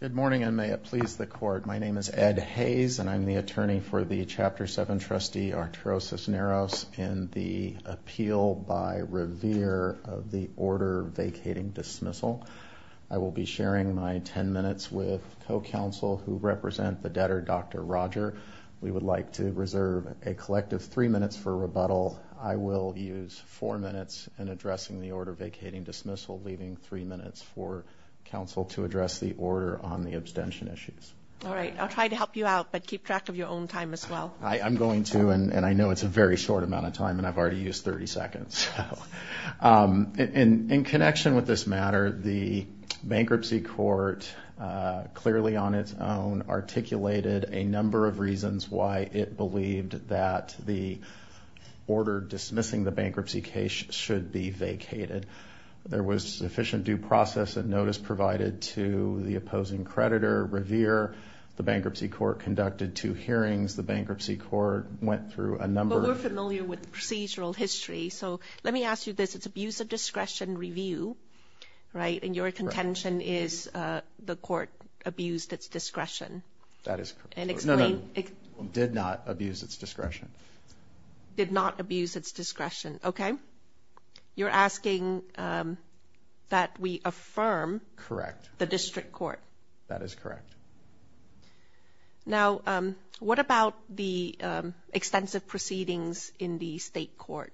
Good morning, and may it please the Court. My name is Ed Hayes, and I'm the attorney for the Chapter 7 trustee, Arturo Cisneros, in the appeal by Revere of the order vacating dismissal. I will be sharing my ten minutes with co-counsel who represent the debtor, Dr. Roger. We would like to reserve a collective three minutes for rebuttal. I will use four minutes in addressing the order vacating dismissal, leaving three minutes for counsel to address the order on the abstention issues. All right. I'll try to help you out, but keep track of your own time as well. I'm going to, and I know it's a very short amount of time, and I've already used 30 seconds. In connection with this matter, the bankruptcy court clearly on its own articulated a number of reasons why it believed that the order dismissing the bankruptcy case should be vacated. There was sufficient due process and notice provided to the opposing creditor, Revere. The bankruptcy court conducted two hearings. The bankruptcy court went through a number of- But we're familiar with the procedural history, so let me ask you this. It's abuse of discretion review, right? And your contention is the court abused its discretion. That is correct. And explain- No, no. It did not abuse its discretion. Did not abuse its discretion. Okay. You're asking that we affirm- Correct. The district court. That is correct. Now, what about the extensive proceedings in the state court?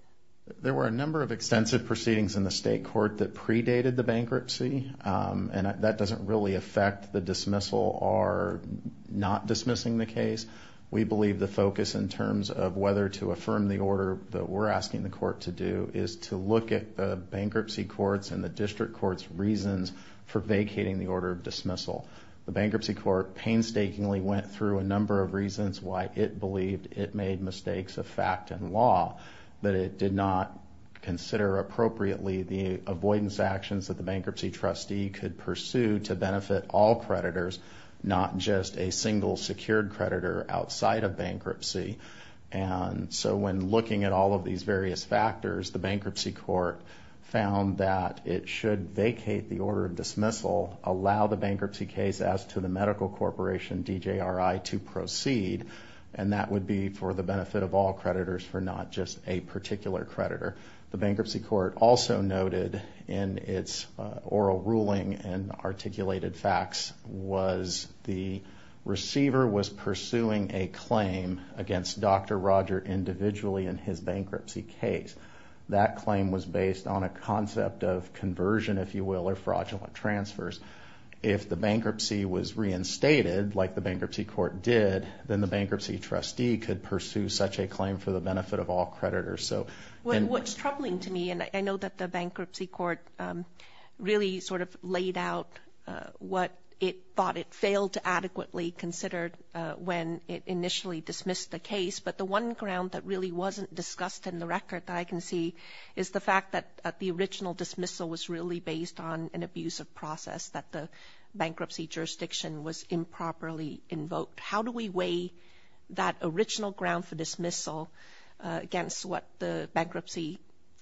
There were a number of extensive proceedings in the state court that predated the bankruptcy, and that doesn't really affect the dismissal or not dismissing the case. We believe the best way in terms of whether to affirm the order that we're asking the court to do is to look at the bankruptcy court's and the district court's reasons for vacating the order of dismissal. The bankruptcy court painstakingly went through a number of reasons why it believed it made mistakes of fact and law, but it did not consider appropriately the avoidance actions that the bankruptcy trustee could pursue to benefit all creditors, not just a single secured creditor outside of bankruptcy. And so when looking at all of these various factors, the bankruptcy court found that it should vacate the order of dismissal, allow the bankruptcy case as to the medical corporation, DJRI, to proceed, and that would be for the benefit of all creditors for not just a particular creditor. The bankruptcy court also noted in its oral ruling and articulated facts was the receiver was pursuing a claim against Dr. Roger individually in his bankruptcy case. That claim was based on a concept of conversion, if you will, or fraudulent transfers. If the bankruptcy was reinstated like the bankruptcy court did, then the bankruptcy trustee could pursue such a claim for the benefit of all creditors. The bankruptcy court really sort of laid out what it thought it failed to adequately consider when it initially dismissed the case. But the one ground that really wasn't discussed in the record that I can see is the fact that the original dismissal was really based on an abusive process that the bankruptcy jurisdiction was improperly invoked. How do we weigh that original ground for dismissal against what the bankruptcy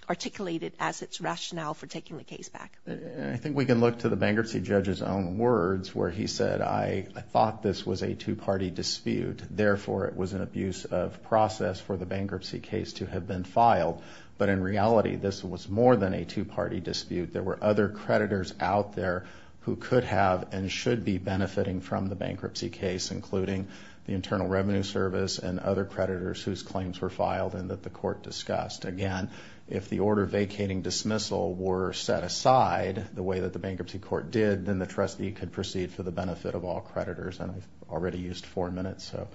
articulated as its rationale for taking the case back? I think we can look to the bankruptcy judge's own words where he said, I thought this was a two-party dispute. Therefore, it was an abuse of process for the bankruptcy case to have been filed. But in reality, this was more than a two-party dispute. There were other creditors out there who could have and should be benefiting from the bankruptcy case, including the Internal Revenue Service and other creditors whose vacating dismissal were set aside the way that the bankruptcy court did, then the trustee could proceed for the benefit of all creditors. I've already used four minutes, so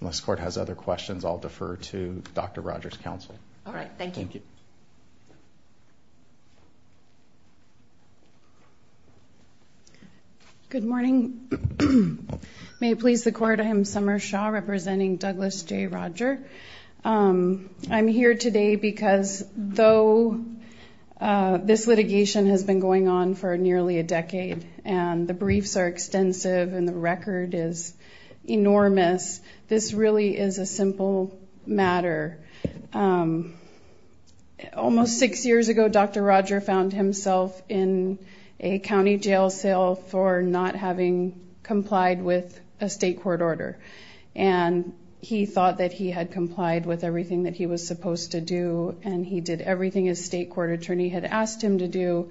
unless the court has other questions, I'll defer to Dr. Rogers' counsel. All right. Thank you. Good morning. May it please the court, I am Summer Shaw representing Douglas J. Roger. I'm here today because though this litigation has been going on for nearly a decade and the briefs are extensive and the record is enormous, this really is a simple matter. Almost six years ago, Dr. Roger found himself in a county jail cell for not having complied with a state court order. He thought that he had complied with everything that he was supposed to do and he did everything his state court attorney had asked him to do,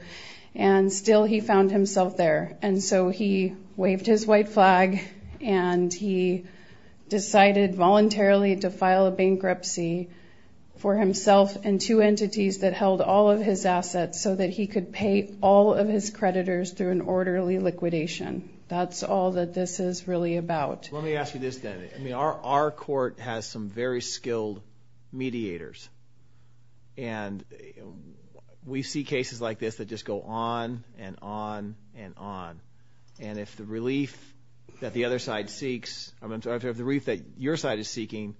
and still he found himself there. He waved his white flag and he decided voluntarily to file a bankruptcy for himself and two entities that held all of his assets so that he could pay all of his creditors through an orderly liquidation. That's all that this is really about. Let me ask you this then. Our court has some very skilled mediators and we see cases like this that just go on and on and on. If the relief that the other side seeks, I'm sorry, if the relief that your side is seeking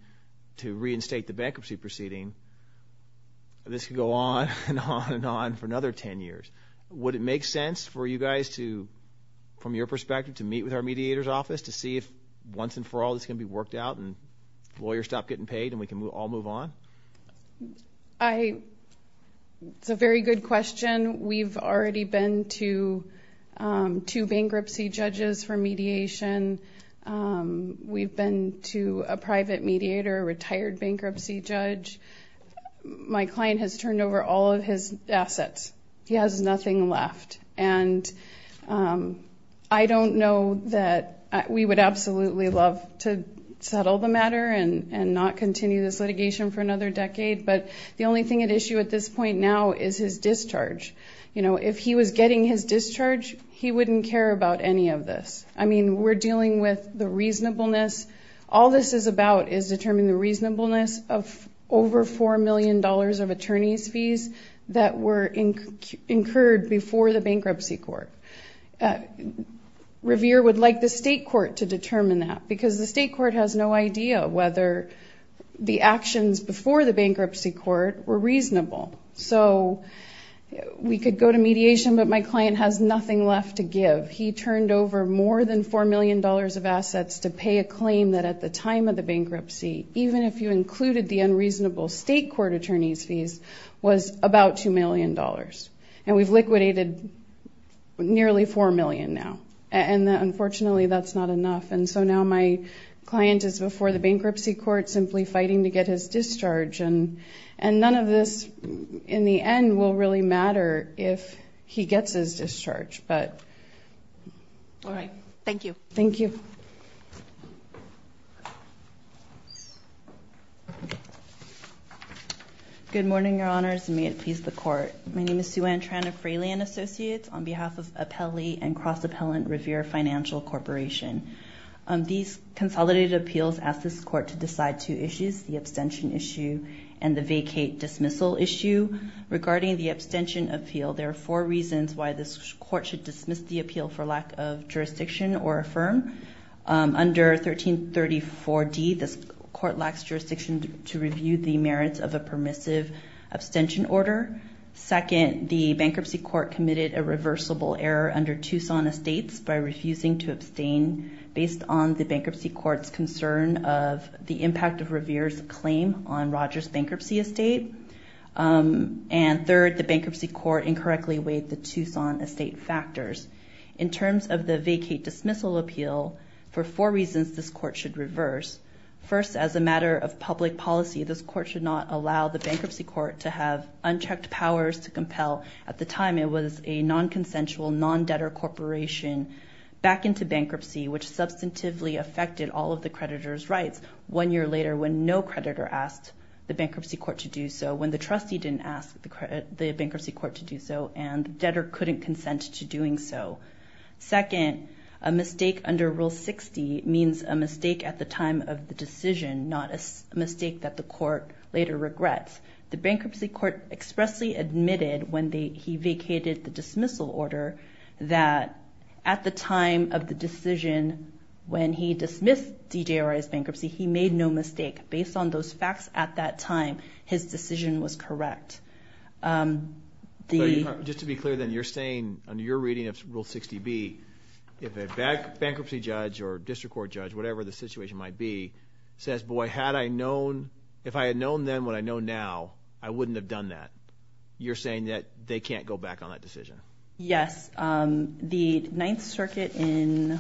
to reinstate the bankruptcy proceeding, this could go on and on and on for another 10 years. Would it make sense for you guys to, from your perspective, to meet with our mediator's office to see if once and for all this can be worked out and lawyers stop getting paid and we can all move on? It's a very good question. We've already been to two bankruptcy judges for mediation. We've been to a private mediator, a retired bankruptcy judge. My client has turned over all of his assets. He has nothing left. I don't know that we would absolutely love to settle the matter and not continue this litigation for another decade, but the only thing at issue at this point now is his discharge. If he was getting his discharge, he wouldn't care about any of this. I mean, we're dealing with the reasonableness. All this is about is determining the reasonableness of over $4 million of attorney's fees that were incurred before the bankruptcy court. Revere would like the state court to determine that because the state court has no idea whether the actions before the bankruptcy court were reasonable. So we could go to mediation, but my client has nothing left to give. He turned over more than $4 million of assets to pay a claim that at the time of the bankruptcy, even if you included the unreasonable state court attorney's fees, was about $2 million. And we've liquidated nearly $4 million now. And unfortunately, that's not enough. And so now my client is before the bankruptcy court simply fighting to get his discharge. And none of this, in the end, will really matter if he gets his discharge. All right. Thank you. Thank you. Good morning, your honors, and may it please the court. My name is Sueann Tran of Freelian Associates on behalf of Appelli and Cross Appellant Revere Financial Corporation. These consolidated appeals ask this court to decide two issues, the abstention issue and the vacate dismissal issue. Regarding the abstention appeal, there are four reasons why this court should dismiss the appeal for lack of jurisdiction or affirm. Under 1334D, this court lacks jurisdiction to review the merits of a permissive abstention order. Second, the bankruptcy court committed a reversible error under Tucson Estates by refusing to abstain based on the bankruptcy court's concern of the impact of Revere's claim on Rogers Bankruptcy Estate. And third, the bankruptcy court incorrectly weighed the Tucson Estate factors. In terms of the vacate dismissal appeal, for four reasons this court should reverse. First, as a matter of public policy, this court should not allow the bankruptcy court to have unchecked powers to compel. At the time, it was a non-consensual, non-debtor corporation back into bankruptcy, which substantively affected all of the creditor's rights. One year later, when no creditor asked the bankruptcy court to do so, when the trustee didn't ask the bankruptcy court to do so, and the debtor couldn't consent to doing so. Second, a mistake under Rule 60 means a mistake at the time of the decision, not a mistake that the court later regrets. The bankruptcy court expressly admitted, when he vacated the dismissal order, that at the time of the decision, when he dismissed DJRI's bankruptcy, he made no mistake. Based on those facts at that time, his decision was correct. But just to be clear then, you're saying, under your reading of Rule 60B, if a bankruptcy judge or district court judge, whatever the situation might be, says, boy, had I known, then, what I know now, I wouldn't have done that. You're saying that they can't go back on that decision. Yes. The Ninth Circuit in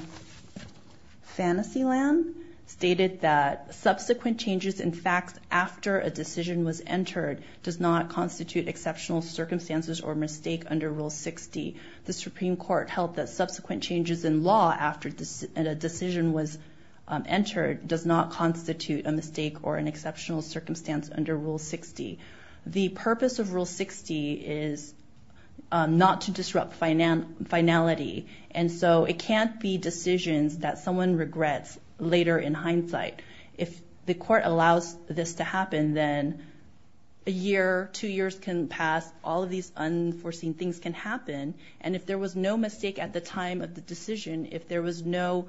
Fantasyland stated that subsequent changes in facts after a decision was entered does not constitute exceptional circumstances or mistake under Rule 60. The Supreme Court held that subsequent changes in law after a decision was entered does not constitute a mistake or an exceptional circumstance under Rule 60. The purpose of Rule 60 is not to disrupt finality. And so, it can't be decisions that someone regrets later in hindsight. If the court allows this to happen, then a year, two years can pass. All of these unforeseen things can happen. And if there was no mistake at the time of the decision, if there was no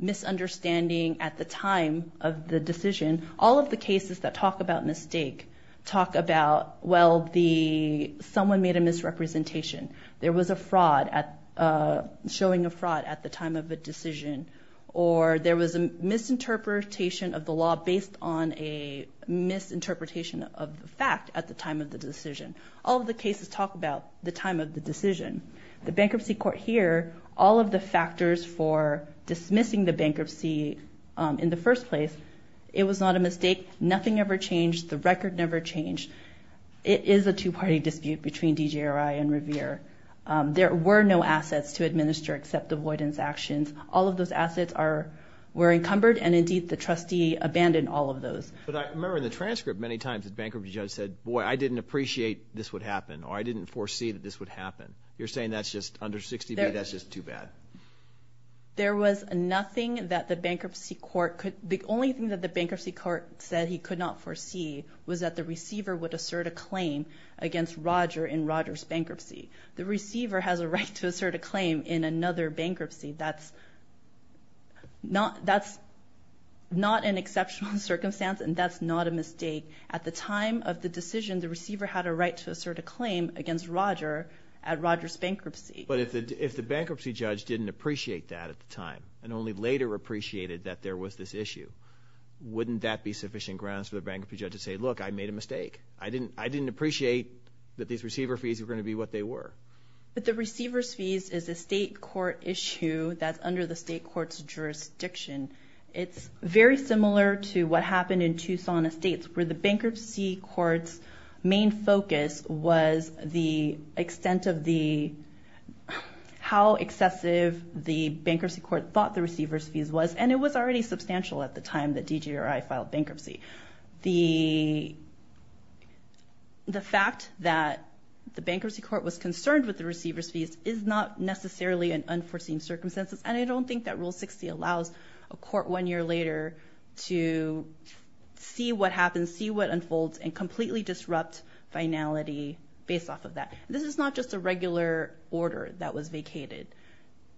misunderstanding at the time of the decision, all of the cases that talk about mistake talk about, well, someone made a misrepresentation. There was a fraud, showing a fraud at the time of a decision. Or there was a misinterpretation of the law based on a misinterpretation of the fact at the time of the decision. All of the cases talk about the time of the decision. The bankruptcy court here, all of the factors for dismissing the bankruptcy in the first place, it was not a mistake. Nothing ever changed. The record never changed. It is a two-party dispute between DJRI and Revere. There were no assets to administer except avoidance actions. All of those assets were encumbered, and indeed, the trustee abandoned all of those. But I remember in the transcript, many times the bankruptcy judge said, boy, I didn't appreciate this would happen, or I didn't foresee that this would happen. You're saying that's just under 60B, that's just too bad. There was nothing that the bankruptcy court could, the only thing that the bankruptcy court said he could not foresee was that the receiver would assert a claim against Roger in Roger's bankruptcy. The receiver has a right to assert a claim in another bankruptcy. That's not an exceptional circumstance, and that's not a mistake. At the time of the decision, the receiver had a right to assert a claim against Roger at Roger's bankruptcy. But if the bankruptcy judge didn't appreciate that at the time, and only later appreciated that there was this issue, wouldn't that be sufficient grounds for the bankruptcy judge to say, look, I made a mistake. I didn't appreciate that these receiver fees were going to be what they were. But the receiver's fees is a state court issue that's under the state court's jurisdiction. It's very similar to what happened in Tucson Estates, where the bankruptcy court's main focus was the extent of the, how excessive the bankruptcy court thought the receiver's fees was, and it was already substantial at the time that DGRI filed bankruptcy. The fact that the bankruptcy court was concerned with the receiver's fees is not necessarily an unforeseen circumstance, and I don't think that Rule 60 allows a court one year later to see what happens, see what unfolds, and completely disrupt finality based off of that. This is not just a regular order that was vacated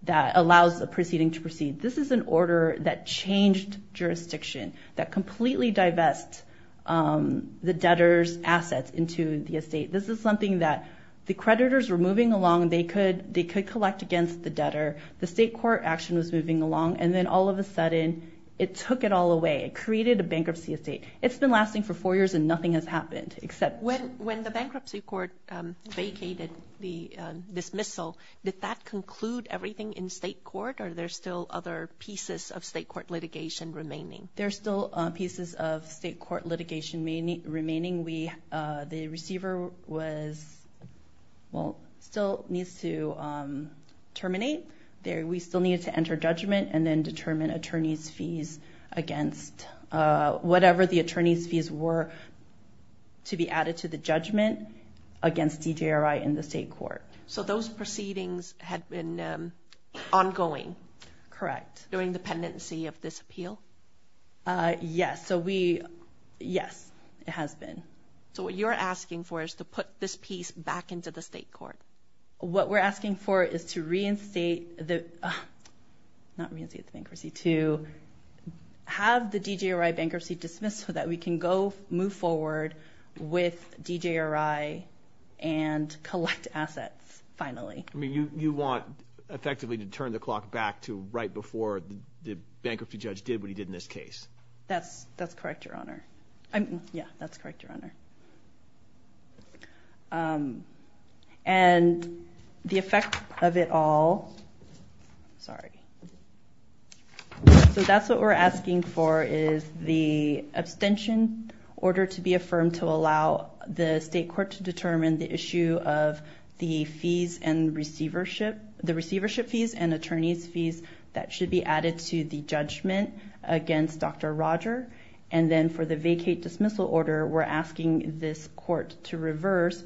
that allows a proceeding to proceed. This is an order that changed jurisdiction, that completely divest the debtor's assets into the estate. This is something that the creditors were moving along. They could collect against the debtor. The state court action was moving along, and then all of a sudden, it took it all away. It created a bankruptcy estate. It's been lasting for four years and nothing has happened, except... When the bankruptcy court vacated the dismissal, did that conclude everything in state court, or are there still other pieces of state court litigation remaining? There are still pieces of state court litigation remaining. The receiver was, well, still needs to terminate. We still needed to enter judgment and then determine attorney's fees against whatever the attorney's fees were to be added to the judgment against DJRI in the state court. So those proceedings had been ongoing during the pendency of this appeal? Yes, it has been. So what you're asking for is to put this piece back into the state court? What we're asking for is to reinstate the... Not reinstate the bankruptcy, to have the DJRI bankruptcy dismissed so that we can move forward with DJRI and collect assets, finally. You want, effectively, to turn the clock back to right before the bankruptcy judge did what he did in this case? That's correct, Your Honor. Yeah, that's correct, Your Honor. And the effect of it all... Sorry. So that's what we're asking for is the abstention order to be affirmed to allow the state court to determine the issue of the fees and receivership... Should be added to the judgment against Dr. Roger. And then for the vacate dismissal order, we're asking this court to reverse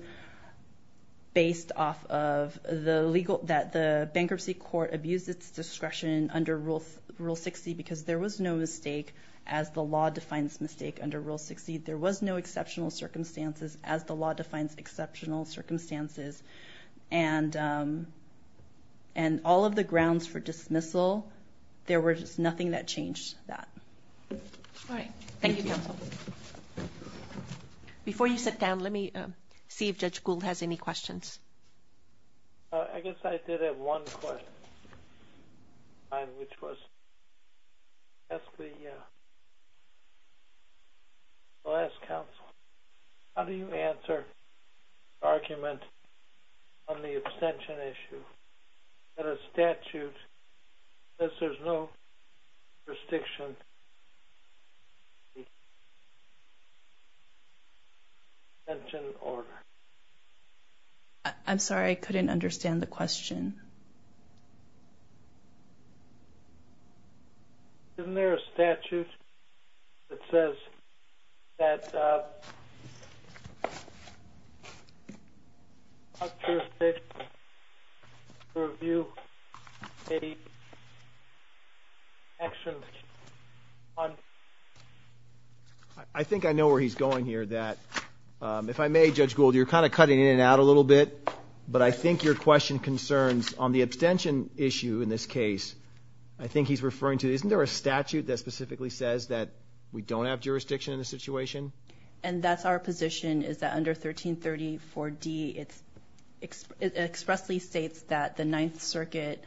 based off of the legal... That the bankruptcy court abused its discretion under Rule 60 because there was no mistake, as the law defines mistake under Rule 60. There was no exceptional circumstances, as the law defines exceptional circumstances. And all of the grounds for dismissal, there was nothing that changed that. All right. Thank you, counsel. Before you sit down, let me see if Judge Gould has any questions. I guess I did have one question, which was... I'll ask counsel, how do you answer the argument on the abstention issue? That a statute says there's no restriction on the abstention order? I'm sorry, I couldn't understand the question. Isn't there a statute that says that... I think I know where he's going here, that... If I may, Judge Gould, you're kind of cutting in and out a little bit, but I think your question concerns on the abstention issue in this case. I think he's referring to... Isn't there a statute that specifically says that we don't have jurisdiction in this situation? And that's our position, is that under 1334D, it expressly states that the Ninth Circuit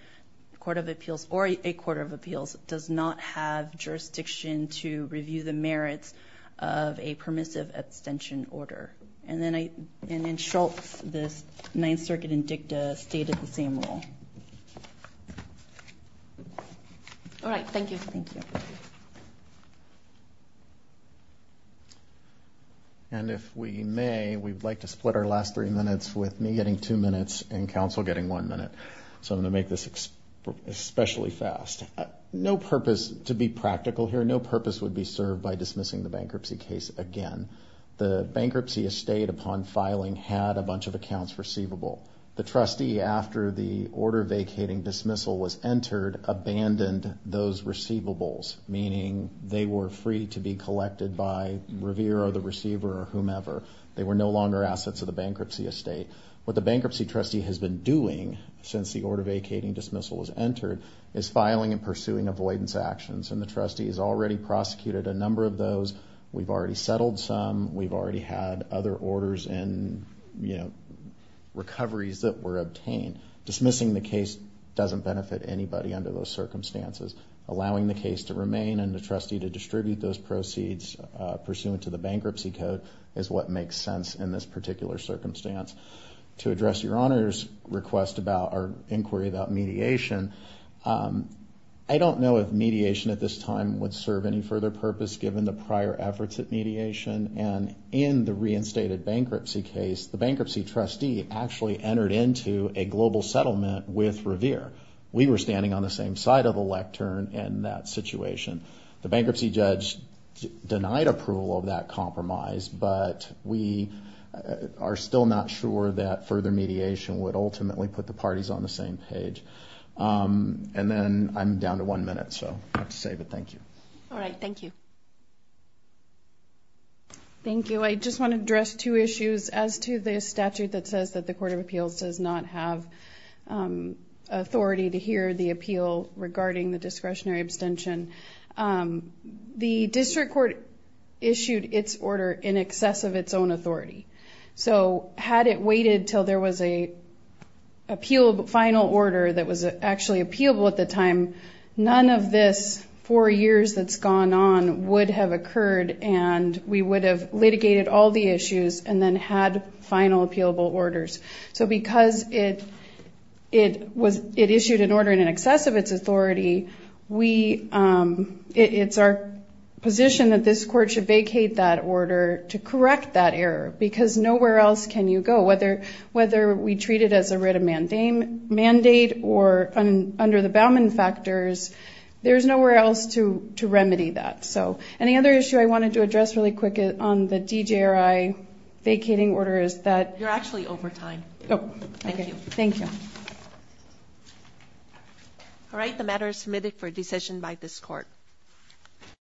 Court of Appeals, or a Court of Appeals, does not have jurisdiction to review the merits of a permissive abstention order. And then Schultz, the Ninth Circuit Indicta, stated the same rule. All right. Thank you. And if we may, we'd like to split our last three minutes with me getting two minutes and counsel getting one minute. So I'm going to make this especially fast. No purpose, to be practical here, no purpose would be served by dismissing the bankruptcy case again. The bankruptcy estate, upon filing, had a bunch of accounts receivable. The trustee, after the order vacating dismissal was entered, abandoned those receivables, meaning they were free to be collected by Revere or the receiver or whomever. They were no longer assets of the bankruptcy estate. What the bankruptcy trustee has been doing since the order vacating dismissal was entered is filing and pursuing avoidance actions. And the trustee has already prosecuted a number of those. We've already settled some. We've already had other orders and, you know, recoveries that were obtained. Dismissing the case doesn't benefit anybody under those circumstances. Allowing the case to remain and the trustee to distribute those proceeds pursuant to the bankruptcy code is what makes sense in this particular circumstance. To address your Honor's request about our inquiry about mediation, I don't know if mediation at this time would serve any further purpose given the prior efforts at mediation. And in the reinstated bankruptcy case, the bankruptcy trustee actually entered into a global settlement with Revere. We were standing on the same side of the lectern in that situation. The bankruptcy judge denied approval of that compromise, but we are still not sure that further mediation would ultimately put the parties on the same page. And then I'm down to one minute, so I'll have to save it. Thank you. All right. Thank you. Thank you. I just want to address two issues as to the statute that says that the Court of Appeals does not have authority to hear the appeal regarding the discretionary abstention. The district court issued its order in excess of its own authority. So had it waited until there was a final order that was actually appealable at the time, none of this four years that's gone on would have occurred and we would have litigated all the issues and then had final appealable orders. So because it issued an order in excess of its authority, it's our position that this court should vacate that order to correct that error because nowhere else can you go. Whether we treat it as a writ of mandate or under the Bauman factors, there's nowhere else to remedy that. So any other issue I wanted to address really quick on the DJRI vacating order is that... You're actually over time. Oh, okay. Thank you. Thank you. All right. The matter is submitted for decision by this court.